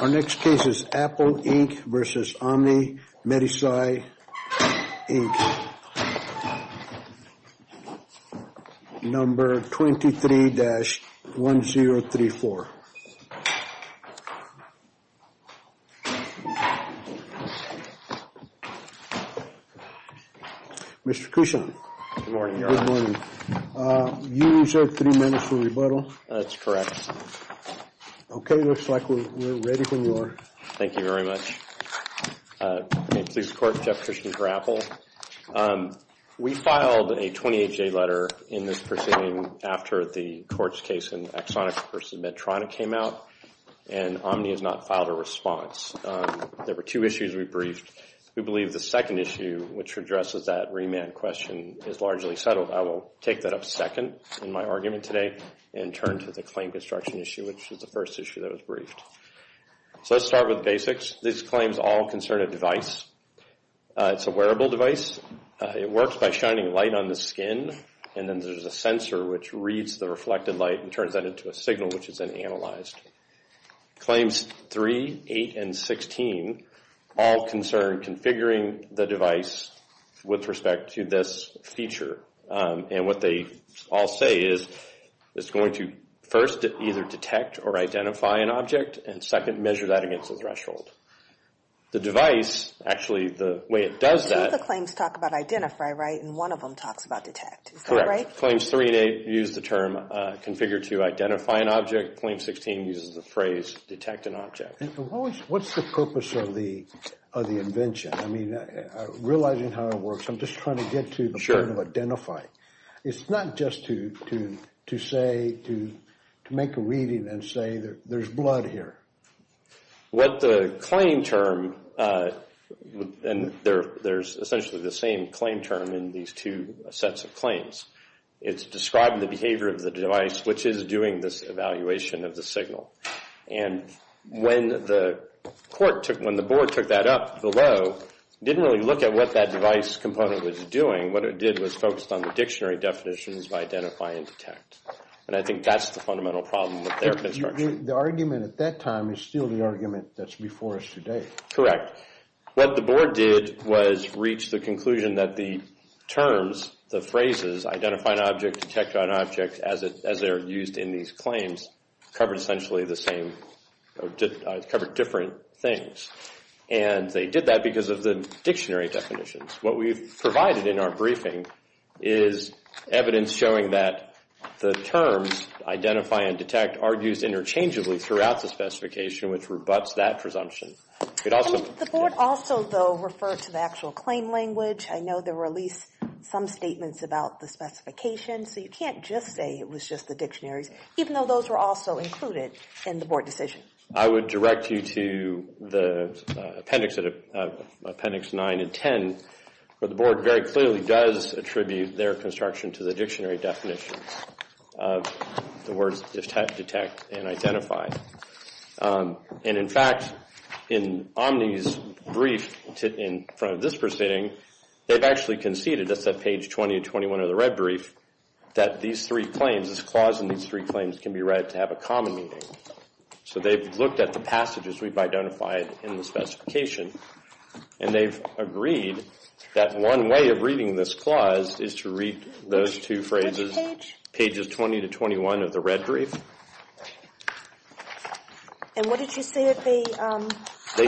Our next case is Apple Inc. v. Omni MedSci, Inc. Number 23-1034. Mr. Cushon. Good morning, Your Honor. Good morning. You reserved three minutes for rebuttal. That's correct. Okay. Looks like we're ready when you are. Thank you very much. Police Court, Jeff Cushon for Apple. We filed a 28-J letter in this proceeding after the court's case in Exxonix v. Medtrona came out, and Omni has not filed a response. There were two issues we briefed. We believe the second issue, which addresses that remand question, is largely settled. I will take that up second in my argument today and turn to the claim construction issue, which is the first issue that was briefed. So let's start with basics. These claims all concern a device. It's a wearable device. It works by shining light on the skin, and then there's a sensor which reads the reflected light and turns that into a signal, which is then analyzed. Claims 3, 8, and 16 all concern configuring the device with respect to this feature. And what they all say is it's going to first either detect or identify an object, and second, measure that against a threshold. The device, actually, the way it does that— Two of the claims talk about identify, right, and one of them talks about detect. Is that right? Claims 3 and 8 use the term configure to identify an object. Claim 16 uses the phrase detect an object. What's the purpose of the invention? I mean, realizing how it works, I'm just trying to get to the point of identifying. It's not just to say, to make a reading and say that there's blood here. What the claim term, and there's essentially the same claim term in these two sets of claims. It's describing the behavior of the device, which is doing this evaluation of the signal. And when the court took, when the board took that up below, didn't really look at what that device component was doing. What it did was focused on the dictionary definitions of identify and detect. And I think that's the fundamental problem with their construction. The argument at that time is still the argument that's before us today. Correct. What the board did was reach the conclusion that the terms, the phrases, identify an object, detect an object, as they're used in these claims, covered essentially the same, covered different things. And they did that because of the dictionary definitions. What we've provided in our briefing is evidence showing that the terms identify and detect are used interchangeably throughout the specification, which rebuts that presumption. The board also, though, referred to the actual claim language. I know there were at least some statements about the specification. So you can't just say it was just the dictionaries, even though those were also included in the board decision. I would direct you to the appendix 9 and 10, where the board very clearly does attribute their construction to the dictionary definition of the words detect and identify. And in fact, in Omni's brief in front of this proceeding, they've actually conceded, that's at page 20 and 21 of the red brief, that these three claims, this clause in these three claims can be read to have a common meaning. So they've looked at the passages we've identified in the specification, and they've agreed that one way of reading this clause is to read those two phrases, pages 20 to 21 of the red brief. And what did you say that they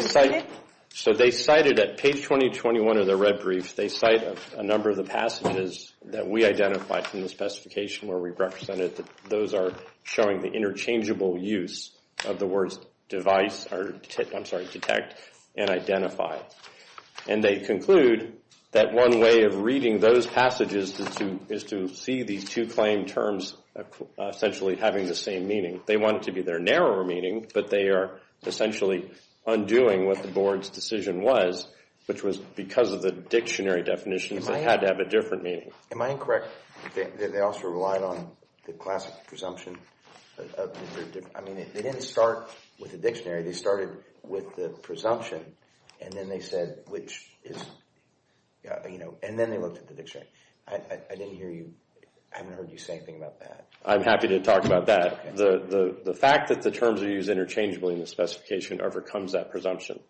cited? So they cited at page 20, 21 of the red brief, they cite a number of the passages that we identified from the specification where we represented that those are showing the interchangeable use of the words device, or I'm sorry, detect and identify. And they conclude that one way of reading those passages is to see these two claim terms essentially having the same meaning. They want it to be their narrower meaning, but they are essentially undoing what the board's decision was, which was because of the dictionary definitions that had to have a different meaning. Am I incorrect that they also relied on the classic presumption? I mean, they didn't start with the dictionary, they started with the presumption, and then they said, which is, you know, and then they looked at the dictionary. I didn't hear you, I haven't heard you say anything about that. I'm happy to talk about that. The fact that the terms are used interchangeably in the specification overcomes that presumption.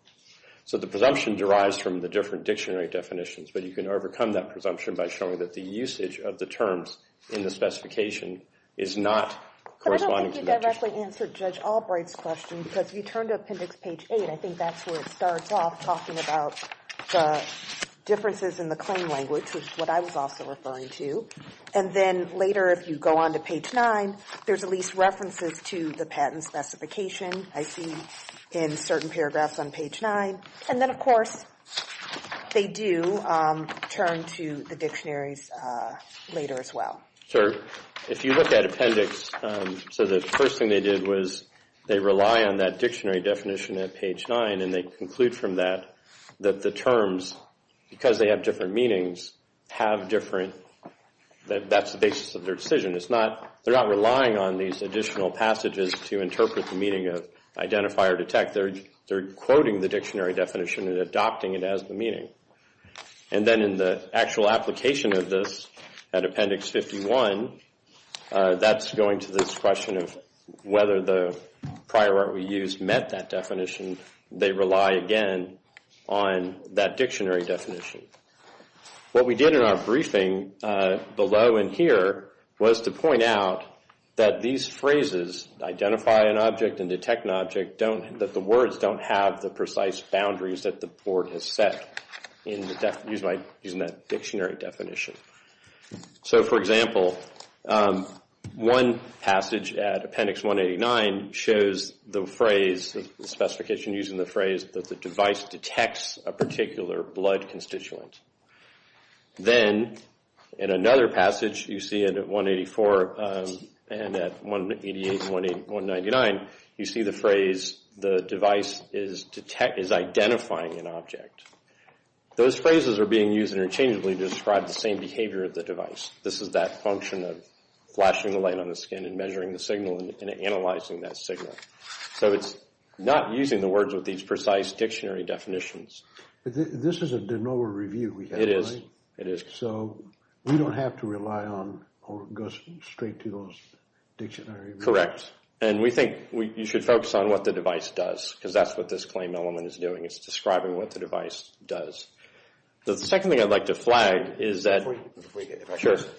So the presumption derives from the different dictionary definitions, but you can overcome that presumption by showing that the usage of the terms in the specification is not corresponding to the dictionary. But I don't think you directly answered Judge Albright's question, because if you turn to appendix page 8, I think that's where it starts off talking about the differences in the claim language, which is what I was also referring to. And then later, if you go on to page 9, there's at least references to the patent specification I see in certain paragraphs on page 9. And then, of course, they do turn to the dictionaries later as well. So if you look at appendix, so the first thing they did was they rely on that dictionary definition at page 9, and they conclude from that that the terms, because they have different meanings, have different, that's the basis of their decision. It's not, they're not relying on these additional passages to interpret the meaning of identify or detect. In fact, they're quoting the dictionary definition and adopting it as the meaning. And then in the actual application of this at appendix 51, that's going to this question of whether the prior art we used met that definition. They rely again on that dictionary definition. What we did in our briefing below and here was to point out that these phrases, identify an object and detect an object, don't, that the words don't have the precise boundaries that the board has set in using that dictionary definition. So, for example, one passage at appendix 189 shows the phrase, the specification using the phrase that the device detects a particular blood constituent. Then, in another passage, you see it at 184 and at 188-199, you see the phrase, the device is identifying an object. Those phrases are being used interchangeably to describe the same behavior of the device. This is that function of flashing the light on the skin and measuring the signal and analyzing that signal. So it's not using the words with these precise dictionary definitions. This is a de novo review we have, right? It is. So we don't have to rely on or go straight to those dictionary reviews. Correct. And we think you should focus on what the device does because that's what this claim element is doing. It's describing what the device does. The second thing I'd like to flag is that... Before you get there, if I could just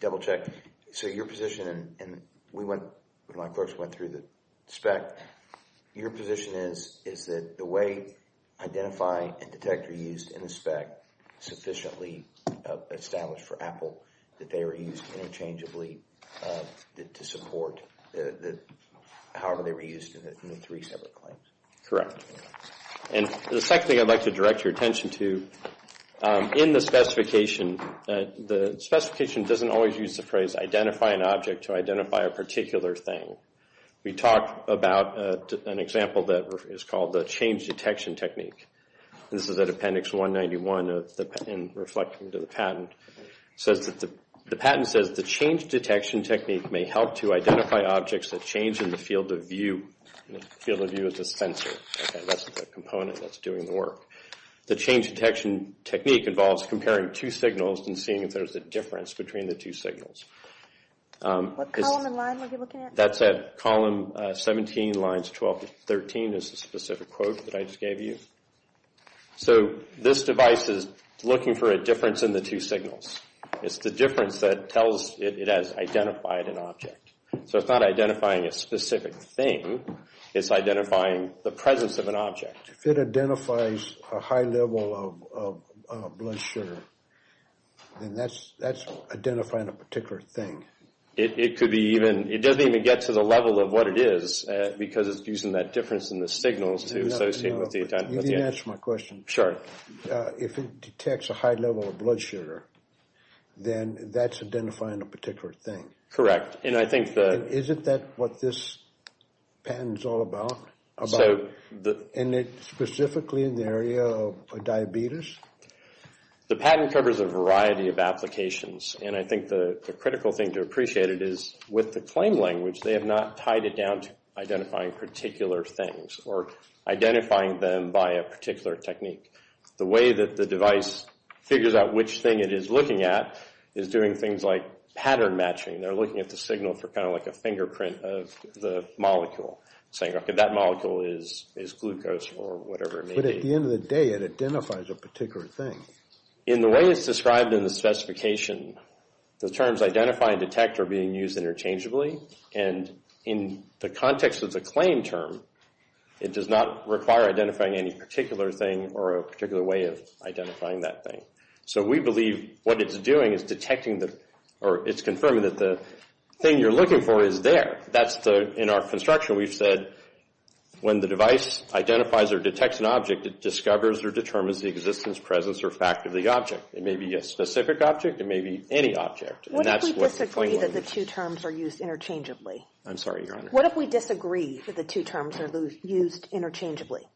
double check. So your position, and we went, my folks went through the spec. Your position is that the way identify and detect are used in the spec sufficiently established for Apple, that they are used interchangeably to support however they were used in the three separate claims. Correct. And the second thing I'd like to direct your attention to, in the specification, the specification doesn't always use the phrase, identify an object to identify a particular thing. We talked about an example that is called the change detection technique. This is at appendix 191 and reflecting to the patent. The patent says the change detection technique may help to identify objects that change in the field of view. Field of view is a sensor. That's the component that's doing the work. The change detection technique involves comparing two signals and seeing if there's a difference between the two signals. What column and line were you looking at? That's at column 17, lines 12 to 13, is the specific quote that I just gave you. So this device is looking for a difference in the two signals. It's the difference that tells it it has identified an object. So it's not identifying a specific thing. It's identifying the presence of an object. If it identifies a high level of blood sugar, then that's identifying a particular thing. It could be even, it doesn't even get to the level of what it is because it's using that difference in the signals to associate with the... You didn't answer my question. Sure. If it detects a high level of blood sugar, then that's identifying a particular thing. Correct. And I think the... Isn't that what this patent is all about? And it's specifically in the area of diabetes? The patent covers a variety of applications. And I think the critical thing to appreciate it is with the claim language, they have not tied it down to identifying particular things or identifying them by a particular technique. The way that the device figures out which thing it is looking at is doing things like pattern matching. They're looking at the signal for kind of like a fingerprint of the molecule, saying, okay, that molecule is glucose or whatever it may be. But at the end of the day, it identifies a particular thing. In the way it's described in the specification, the terms identify and detect are being used interchangeably. And in the context of the claim term, it does not require identifying any particular thing or a particular way of identifying that thing. So we believe what it's doing is detecting the... Or it's confirming that the thing you're looking for is there. That's the... In our construction, we've said when the device identifies or detects an object, it discovers or determines the existence, presence, or fact of the object. It may be a specific object. It may be any object. And that's what the claim language... What if we disagree that the two terms are used interchangeably? I'm sorry, Your Honor. What if we disagree that the two terms are used interchangeably?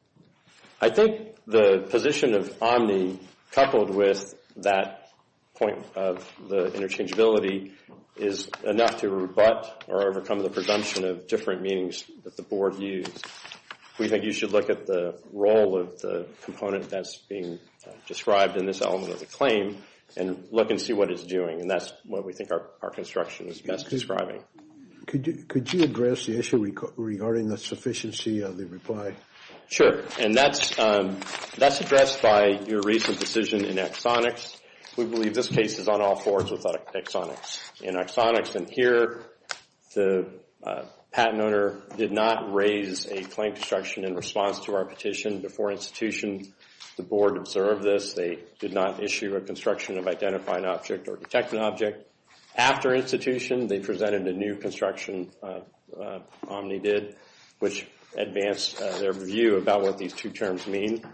I think the position of omni coupled with that point of the interchangeability is enough to rebut or overcome the presumption of different meanings that the board used. We think you should look at the role of the component that's being described in this element of the claim and look and see what it's doing. And that's what we think our construction is best describing. Could you address the issue regarding the sufficiency of the reply? Sure. And that's addressed by your recent decision in Exonix. We believe this case is on all fours with Exonix. In Exonix and here, the patent owner did not raise a claim construction in response to our petition before institution. The board observed this. They did not issue a construction of identifying object or detecting object. After institution, they presented a new construction, omni did, which advanced their view about what these two terms mean.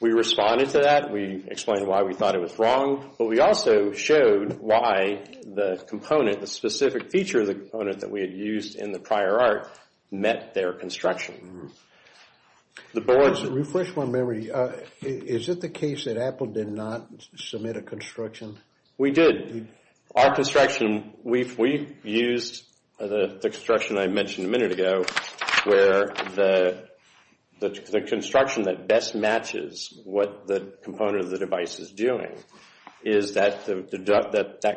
We responded to that. We explained why we thought it was wrong. But we also showed why the component, the specific feature of the component that we had used in the prior art, met their construction. Refresh my memory. Is it the case that Apple did not submit a construction? We did. Our construction, we used the construction I mentioned a minute ago, where the construction that best matches what the component of the device is doing. Is that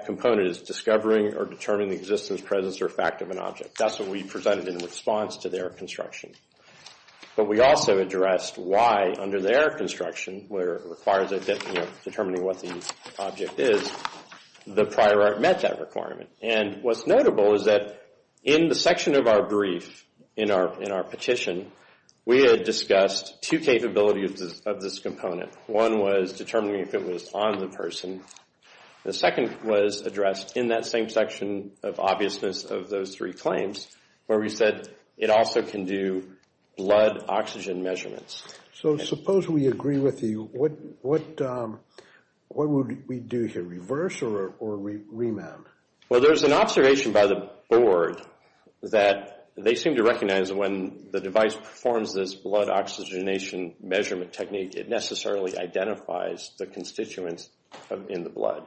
component is discovering or determining the existence, presence, or fact of an object. That's what we presented in response to their construction. But we also addressed why under their construction, where it requires determining what the object is, the prior art met that requirement. And what's notable is that in the section of our brief, in our petition, we had discussed two capabilities of this component. One was determining if it was on the person. The second was addressed in that same section of obviousness of those three claims, where we said it also can do blood oxygen measurements. So suppose we agree with you. What would we do here? Reverse or remount? Well, there's an observation by the board that they seem to recognize when the device performs this blood oxygenation measurement technique, it necessarily identifies the constituents in the blood.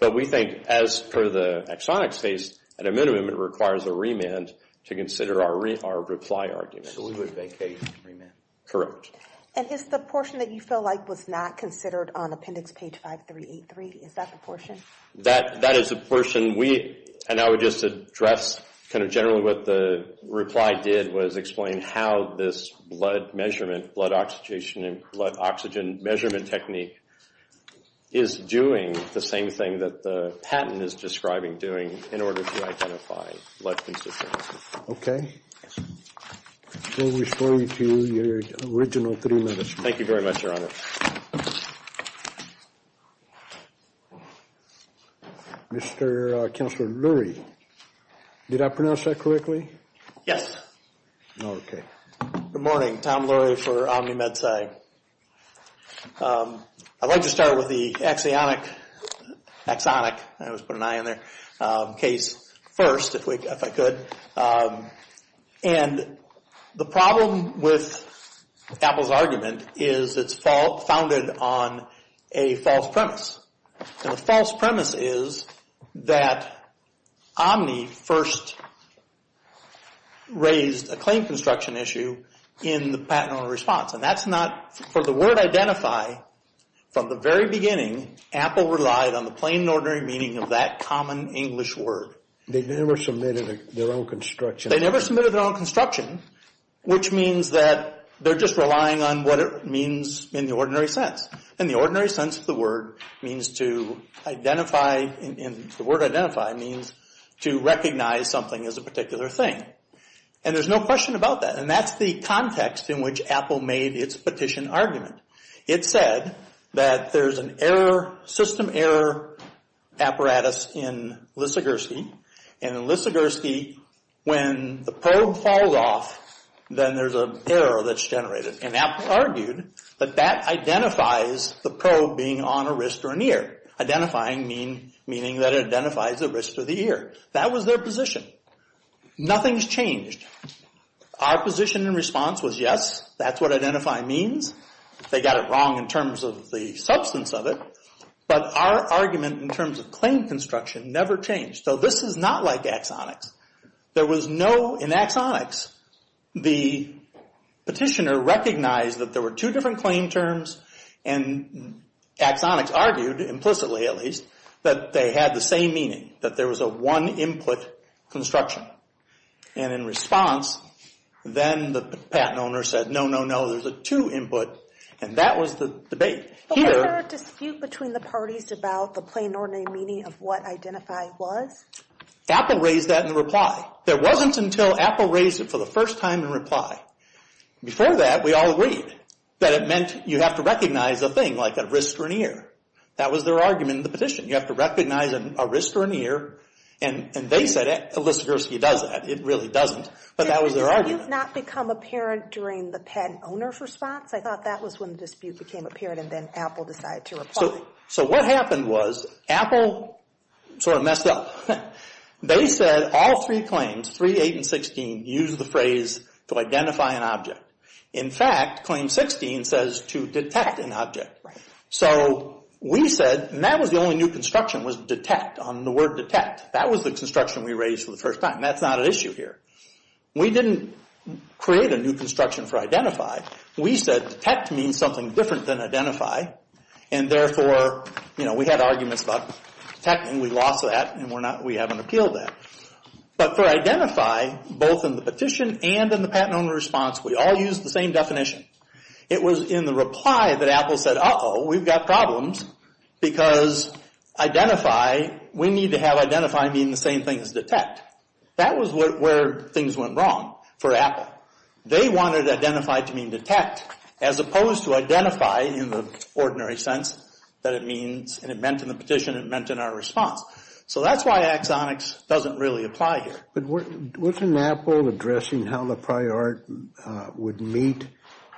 But we think as per the exonics phase, at a minimum, it requires a remand to consider our reply argument. So we would vacate remand? Correct. And is the portion that you feel like was not considered on appendix page 5383, is that the portion? That is the portion we, and I would just address kind of generally what the reply did was explain how this blood measurement, blood oxygenation and blood oxygen measurement technique is doing the same thing that the patent is describing doing in order to identify blood constituents. Okay. We'll refer you to your original three minutes. Thank you very much, Your Honor. Mr. Counselor Lurie, did I pronounce that correctly? Yes. Okay. Good morning, Tom Lurie for Omni Med-SAG. I'd like to start with the axionic, axonic, I always put an I in there, case first, if I could. And the problem with Apple's argument is it's founded on a false premise. And the false premise is that Omni first raised a claim construction issue in the patent owner response. And that's not, for the word identify, from the very beginning, Apple relied on the plain and ordinary meaning of that common English word. They never submitted their own construction. They never submitted their own construction, which means that they're just relying on what it means in the ordinary sense. In the ordinary sense, the word means to identify, the word identify means to recognize something as a particular thing. And there's no question about that. And that's the context in which Apple made its petition argument. It said that there's an error, system error apparatus in Lissagursky. And in Lissagursky, when the probe falls off, then there's an error that's generated. Identifying meaning that it identifies the wrist or the ear. That was their position. Nothing's changed. Our position in response was yes, that's what identify means. They got it wrong in terms of the substance of it. But our argument in terms of claim construction never changed. So this is not like axonics. There was no, in axonics, the petitioner recognized that there were two different claim terms, and axonics argued, implicitly at least, that they had the same meaning, that there was a one input construction. And in response, then the patent owner said, no, no, no, there's a two input. And that was the debate. But was there a dispute between the parties about the plain ordinary meaning of what identify was? Apple raised that in reply. There wasn't until Apple raised it for the first time in reply. Before that, we all agreed that it meant you have to recognize a thing like a wrist or an ear. That was their argument in the petition. You have to recognize a wrist or an ear. And they said Alyssa Gursky does that. It really doesn't. But that was their argument. Did that not become apparent during the patent owner's response? I thought that was when the dispute became apparent and then Apple decided to reply. So what happened was Apple sort of messed up. They said all three claims, 3, 8, and 16, used the phrase to identify an object. In fact, claim 16 says to detect an object. So we said, and that was the only new construction was detect on the word detect. That was the construction we raised for the first time. That's not an issue here. We didn't create a new construction for identify. We said detect means something different than identify. And therefore, you know, we had arguments about detecting. We lost that and we haven't appealed that. But for identify, both in the petition and in the patent owner's response, we all used the same definition. It was in the reply that Apple said, uh-oh, we've got problems. Because identify, we need to have identify mean the same thing as detect. That was where things went wrong for Apple. They wanted identify to mean detect as opposed to identify in the ordinary sense that it means, and it meant in the petition, it meant in our response. So that's why axonics doesn't really apply here. But wasn't Apple addressing how the prior art would meet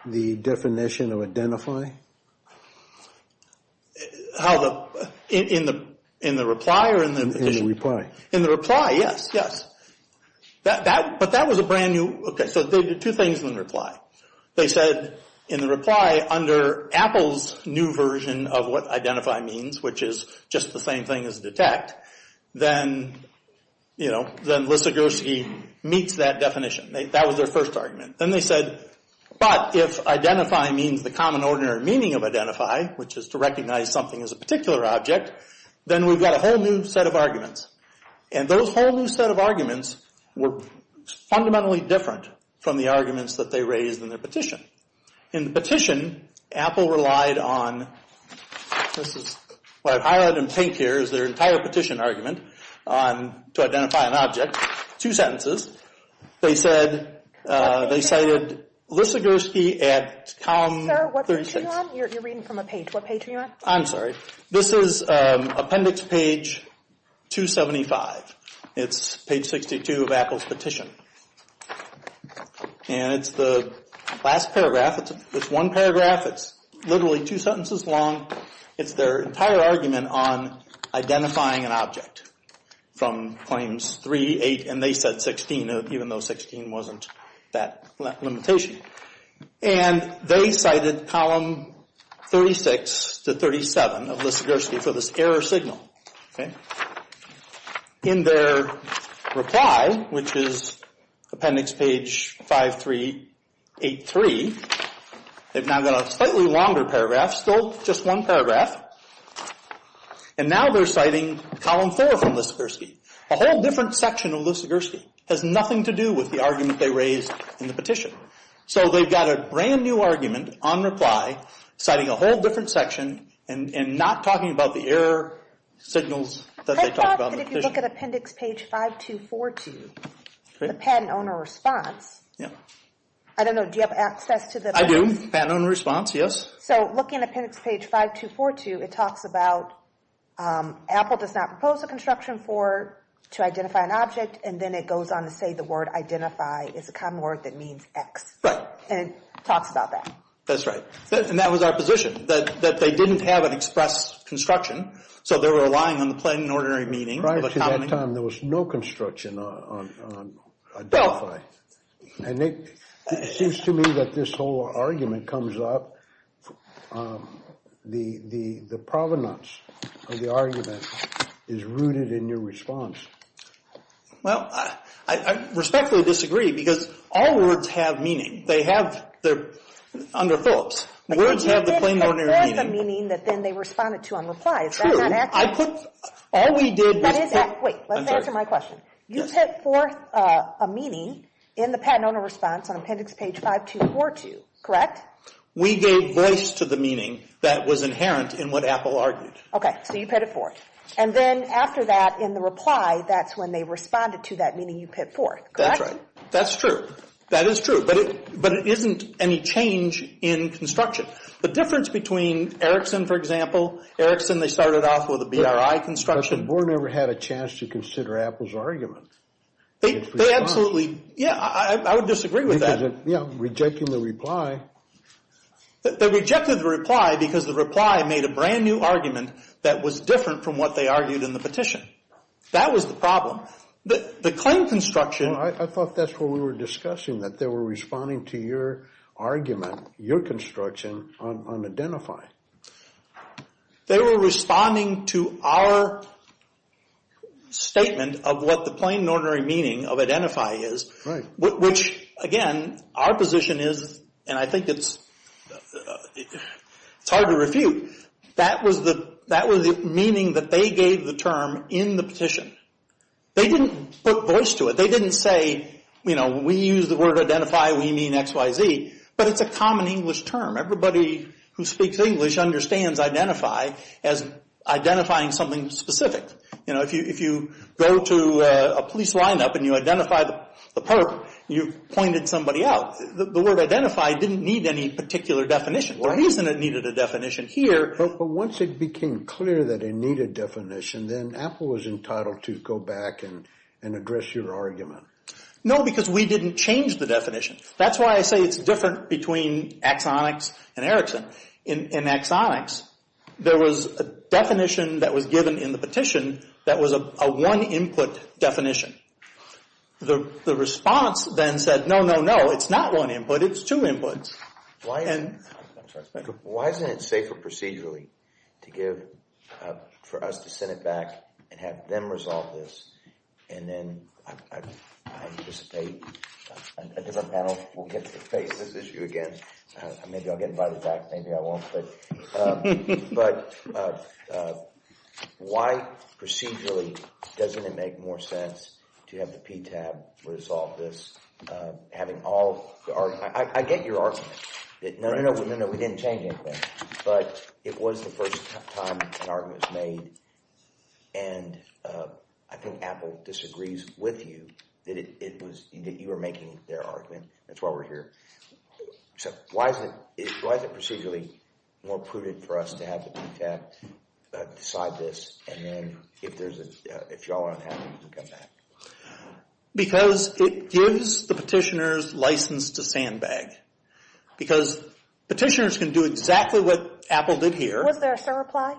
the definition of identify? How the, in the reply or in the petition? In the reply. In the reply, yes, yes. But that was a brand new, okay, so they did two things in the reply. They said in the reply under Apple's new version of what identify means, which is just the same thing as detect, then, you know, then Lissagorsky meets that definition. That was their first argument. Then they said, but if identify means the common ordinary meaning of identify, which is to recognize something as a particular object, then we've got a whole new set of arguments. And those whole new set of arguments were fundamentally different from the arguments that they raised in their petition. In the petition, Apple relied on, this is what I've highlighted in pink here, is their entire petition argument on, to identify an object. Two sentences. They said, they cited Lissagorsky at column 36. Sir, what page are you on? You're reading from a page. What page are you on? I'm sorry. This is appendix page 275. It's page 62 of Apple's petition. And it's the last paragraph. It's one paragraph. It's literally two sentences long. It's their entire argument on identifying an object from claims 3, 8, and they said 16, even though 16 wasn't that limitation. And they cited column 36 to 37 of Lissagorsky for this error signal. In their reply, which is appendix page 5383, they've now got a slightly longer paragraph, still just one paragraph. And now they're citing column 4 from Lissagorsky. A whole different section of Lissagorsky. It has nothing to do with the argument they raised in the petition. So they've got a brand new argument on reply, citing a whole different section, and not talking about the error signals that they talked about in the petition. I thought that if you look at appendix page 5242, the patent owner response, I don't know, do you have access to the patent? I do. Patent owner response, yes. So looking at appendix page 5242, it talks about Apple does not propose a construction to identify an object, and then it goes on to say the word identify is a common word that means X. Right. And it talks about that. That's right. And that was our position. That they didn't have an express construction, so they were relying on the plain and ordinary meaning. Right, because at that time there was no construction on identify. And it seems to me that this whole argument comes up, the provenance of the argument is rooted in your response. Well, I respectfully disagree, because all words have meaning. They have, under Phillips, words have the plain and ordinary meaning. But you didn't express the meaning that then they responded to on reply. True. Is that not accurate? I put, all we did was put... Wait, let's answer my question. You put forth a meaning in the patent owner response on appendix page 5242, correct? We gave voice to the meaning that was inherent in what Apple argued. Okay, so you put it forth. And then after that, in the reply, that's when they responded to that meaning you put forth, correct? That's right. That's true. That is true. But it isn't any change in construction. The difference between Erickson, for example, Erickson, they started off with a BRI construction. Because Board never had a chance to consider Apple's argument. They absolutely, yeah, I would disagree with that. Yeah, rejecting the reply. They rejected the reply because the reply made a brand new argument that was different from what they argued in the petition. That was the problem. The claim construction... I thought that's what we were discussing, that they were responding to your argument, your construction, on identifying. They were responding to our statement of what the plain and ordinary meaning of identify is, which, again, our position is, and I think it's hard to refute, that was the meaning that they gave the term in the petition. They didn't put voice to it. They didn't say, you know, we use the word identify, we mean X, Y, Z. But it's a common English term. Everybody who speaks English understands identify as identifying something specific. You know, if you go to a police lineup and you identify the perp, you've pointed somebody out. The word identify didn't need any particular definition. The reason it needed a definition here... But once it became clear that it needed definition, then Apple was entitled to go back and address your argument. No, because we didn't change the definition. That's why I say it's different between Axonix and Erickson. In Axonix, there was a definition that was given in the petition that was a one input definition. The response then said, no, no, no, it's not one input, it's two inputs. Why isn't it safer procedurally to give, for us to send it back and have them resolve this, and then I anticipate a different panel will get to face this issue again. Maybe I'll get invited back, maybe I won't, but... But why procedurally doesn't it make more sense to have the PTAB resolve this? Having all... I get your argument. No, no, no, we didn't change anything, but it was the first time an argument was made. And I think Apple disagrees with you that you were making their argument. That's why we're here. So why is it procedurally more prudent for us to have the PTAB decide this, and then if y'all aren't happy, you can come back? Because it gives the petitioners license to sandbag. Because petitioners can do exactly what Apple did here. Was there a surreply?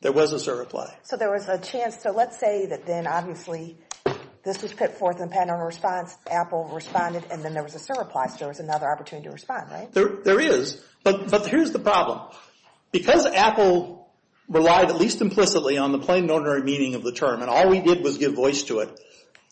There was a surreply. So there was a chance, so let's say that then obviously this was put forth in the patent owner response, Apple responded, and then there was a surreply, so there was another opportunity to respond, right? There is, but here's the problem. Because Apple relied at least implicitly on the plain and ordinary meaning of the term, and all we did was give voice to it,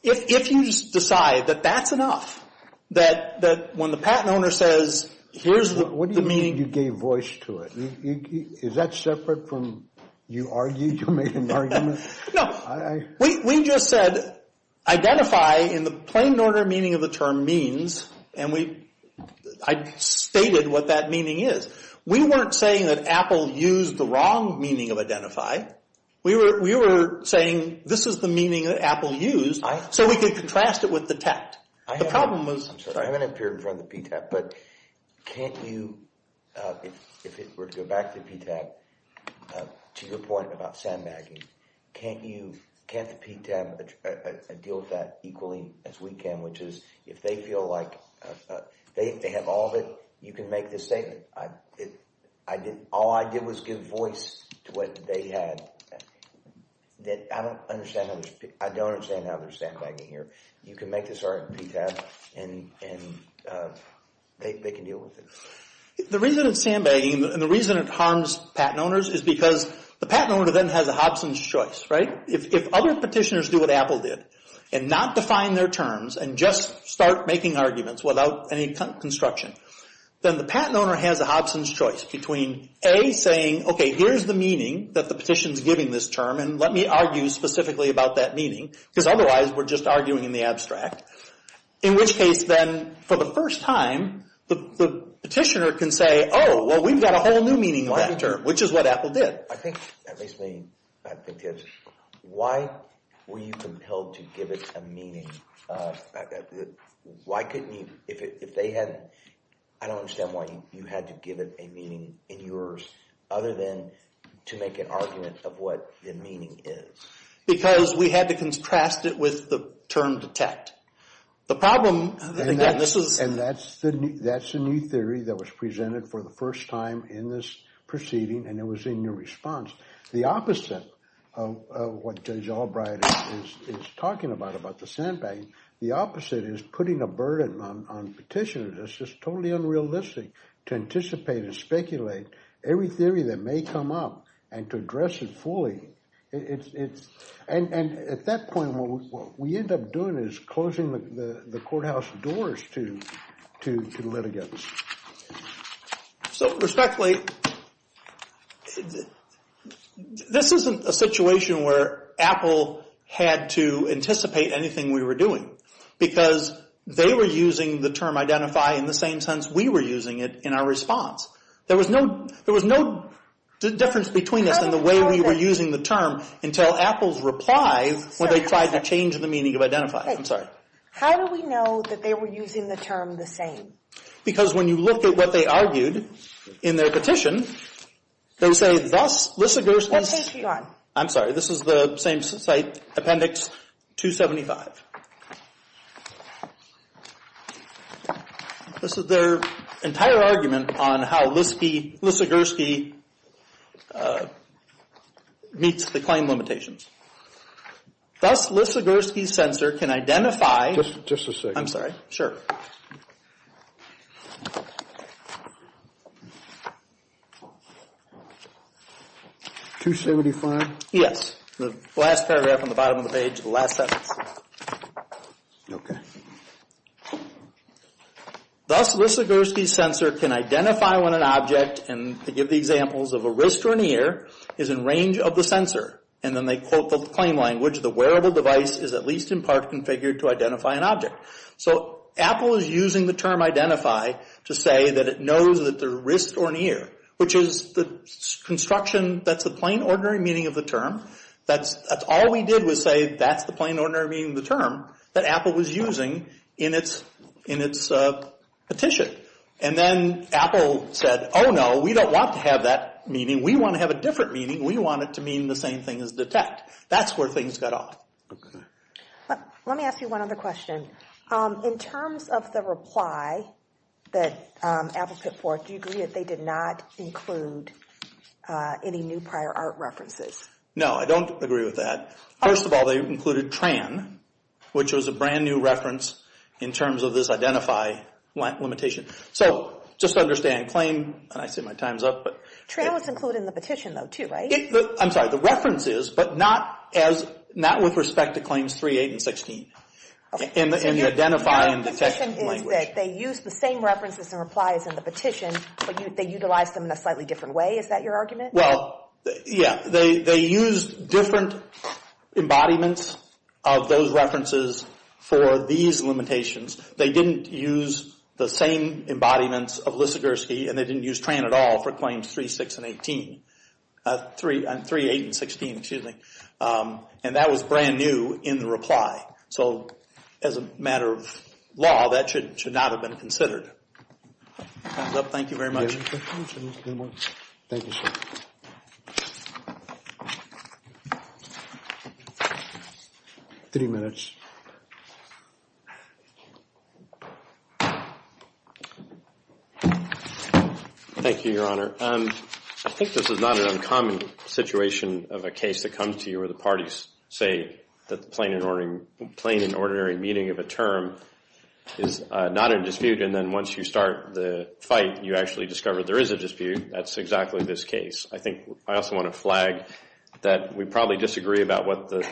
if you decide that that's enough, that when the patent owner says, here's the meaning... What do you mean you gave voice to it? Is that separate from you argued, you made an argument? No, we just said identify in the plain and ordinary meaning of the term means, and I stated what that meaning is. We weren't saying that Apple used the wrong meaning of identify. We were saying this is the meaning that Apple used, so we could contrast it with detect. The problem was... I haven't appeared in front of the PTAP, but can't you... If it were to go back to PTAP, to your point about sandbagging, can't you, can't the PTAP deal with that equally as we can, which is if they feel like they have all of it, you can make this statement. All I did was give voice to what they had. I don't understand how there's sandbagging here. You can make this argument in PTAP, and they can deal with it. The reason it's sandbagging, and the reason it harms patent owners, is because the patent owner then has a Hobson's choice, right? If other petitioners do what Apple did, and not define their terms, and just start making arguments without any construction, then the patent owner has a Hobson's choice between, A, saying, okay, here's the meaning that the petition's giving this term, and let me argue specifically about that meaning, because otherwise, we're just arguing in the abstract. In which case, then, for the first time, the petitioner can say, oh, well, we've got a whole new meaning of that term, which is what Apple did. I think that makes me, I think it's... Why were you compelled to give it a meaning? Why couldn't you, if they had... I don't understand why you had to give it a meaning in yours, other than to make an argument of what the meaning is. Because we had to contrast it with the term detect. The problem, again, this is... And that's the new theory that was presented for the first time in this proceeding, and it was in your response. The opposite of what Judge Albright is talking about, about the sandbag, the opposite is putting a burden on petitioners. It's just totally unrealistic to anticipate and speculate every theory that may come up, and to address it fully. It's... And at that point, what we end up doing is closing the courthouse doors to litigants. So, respectfully, this isn't a situation where Apple had to anticipate anything we were doing, because they were using the term identify in the same sense we were using it in our response. There was no difference between us and the way we were using the term until Apple's reply, when they tried to change the meaning of identify. I'm sorry. How do we know that they were using the term the same? Because when you look at what they argued in their petition, they say, thus, Lissagursky's... What page are you on? I'm sorry, this is the same site, Appendix 275. This is their entire argument on how Lissagursky meets the claim limitations. Thus, Lissagursky's sensor can identify... Just a second. I'm sorry. Sure. 275? Yes. The last paragraph on the bottom of the page, the last sentence. Okay. Thus, Lissagursky's sensor can identify when an object, and to give the examples of a wrist or an ear, is in range of the sensor. And then they quote the claim language, the wearable device is at least in part configured to identify an object. So Apple is using the term identify to say that it knows that the wrist or an ear, which is the construction, that's the plain ordinary meaning of the term. That's all we did was say that's the plain ordinary meaning of the term that Apple was using in its petition. And then Apple said, oh no, we don't want to have that meaning. We want to have a different meaning. We want it to mean the same thing as detect. That's where things got off. Let me ask you one other question. In terms of the reply that Apple put forth, do you agree that they did not include any new prior art references? No, I don't agree with that. First of all, they included TRAN, which was a brand new reference in terms of this identify limitation. So just to understand, claim, and I see my time's up. TRAN was included in the petition, though, too, right? I'm sorry. The reference is, but not with respect to claims 3, 8, and 16, in the identify and detect language. They used the same references and replies in the petition, but they utilized them in a slightly different way. Is that your argument? Well, yeah. They used different embodiments of those references for these limitations. They didn't use the same embodiments of Lissigerski, and they didn't use TRAN at all for claims 3, 8, and 16. And that was brand new in the reply. So as a matter of law, that should not have been considered. Time's up. Thank you very much. Thank you, sir. Three minutes. Thank you, Your Honor. I think this is not an uncommon situation of a case that comes to you where the parties say that the plain and ordinary meaning of a term is not in dispute, and then once you start the fight, you actually discover there is a dispute. That's exactly this case. I think I also want to flag that we probably disagree about what the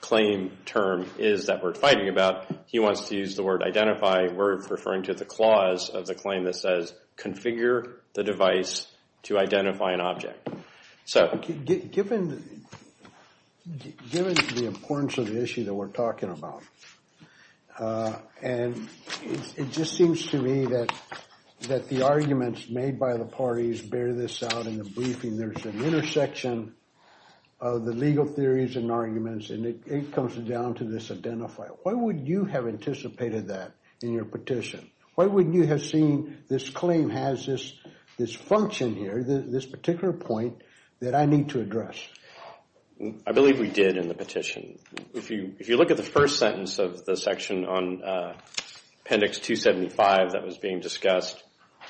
claim term is that we're fighting about. He wants to use the word identify. We're referring to the clause of the claim that says, configure the device to identify an object. Sir? Given the importance of the issue that we're talking about, and it just seems to me that the arguments made by the parties bear this out in the briefing. There's an intersection of the legal theories and arguments, and it comes down to this identify. Why would you have anticipated that in your petition? Why wouldn't you have seen this claim has this function here, this particular point that I need to address? I believe we did in the petition. If you look at the first sentence of the section on Appendix 275 that was being discussed,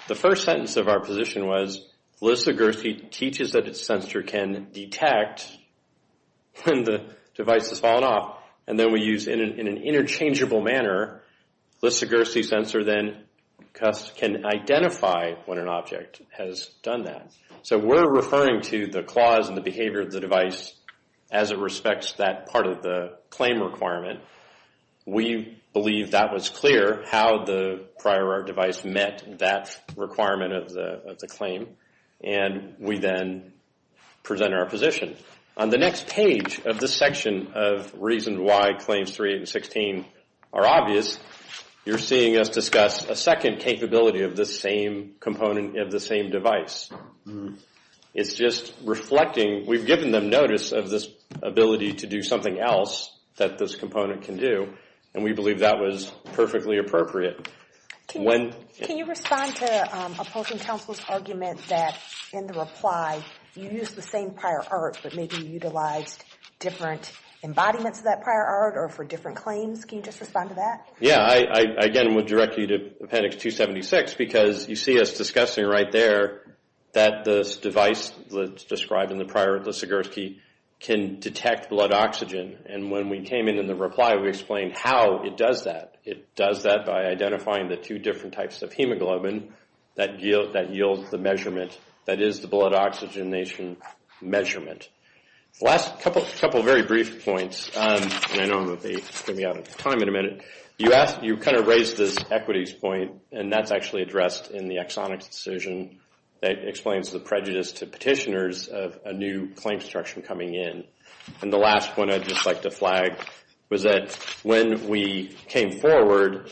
the first sentence of our position was, Lisa Gersey teaches that a sensor can detect when the device has fallen off, and then we use in an interchangeable manner, Lisa Gersey's sensor then can identify when an object has done that. So we're referring to the clause and the behavior of the device as it respects that part of the claim requirement. We believe that was clear how the prior device met that requirement of the claim, and we then present our position. On the next page of this section of reasons why Claims 3 and 16 are obvious, you're seeing us discuss a second capability of the same component of the same device. It's just reflecting, we've given them notice of this ability to do something else that this component can do, and we believe that was perfectly appropriate. Can you respond to opposing counsel's argument that in the reply, you used the same prior art, but maybe you utilized different embodiments of that prior art or for different claims? Can you just respond to that? Yeah, I again would direct you to Appendix 276 because you see us discussing right there that this device that's described in the prior, Lisa Gersey, can detect blood oxygen, and when we came in in the reply, we explained how it does that. It does that by identifying the two different types of hemoglobin that yield the measurement that is the blood oxygenation measurement. The last couple of very brief points, and I know I'm going to be running out of time in a minute, you kind of raised this equities point, and that's actually addressed in the exonics decision that explains the prejudice to petitioners of a new claim structure coming in. And the last point I'd just like to flag was that when we came forward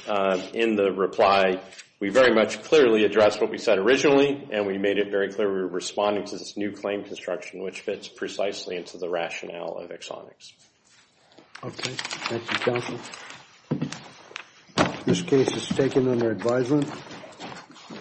in the reply, we very much clearly addressed what we said originally, and we made it very clear we were responding to this new claim construction, which fits precisely into the rationale of exonics. Okay. Thank you, counsel. This case is taken under advisement.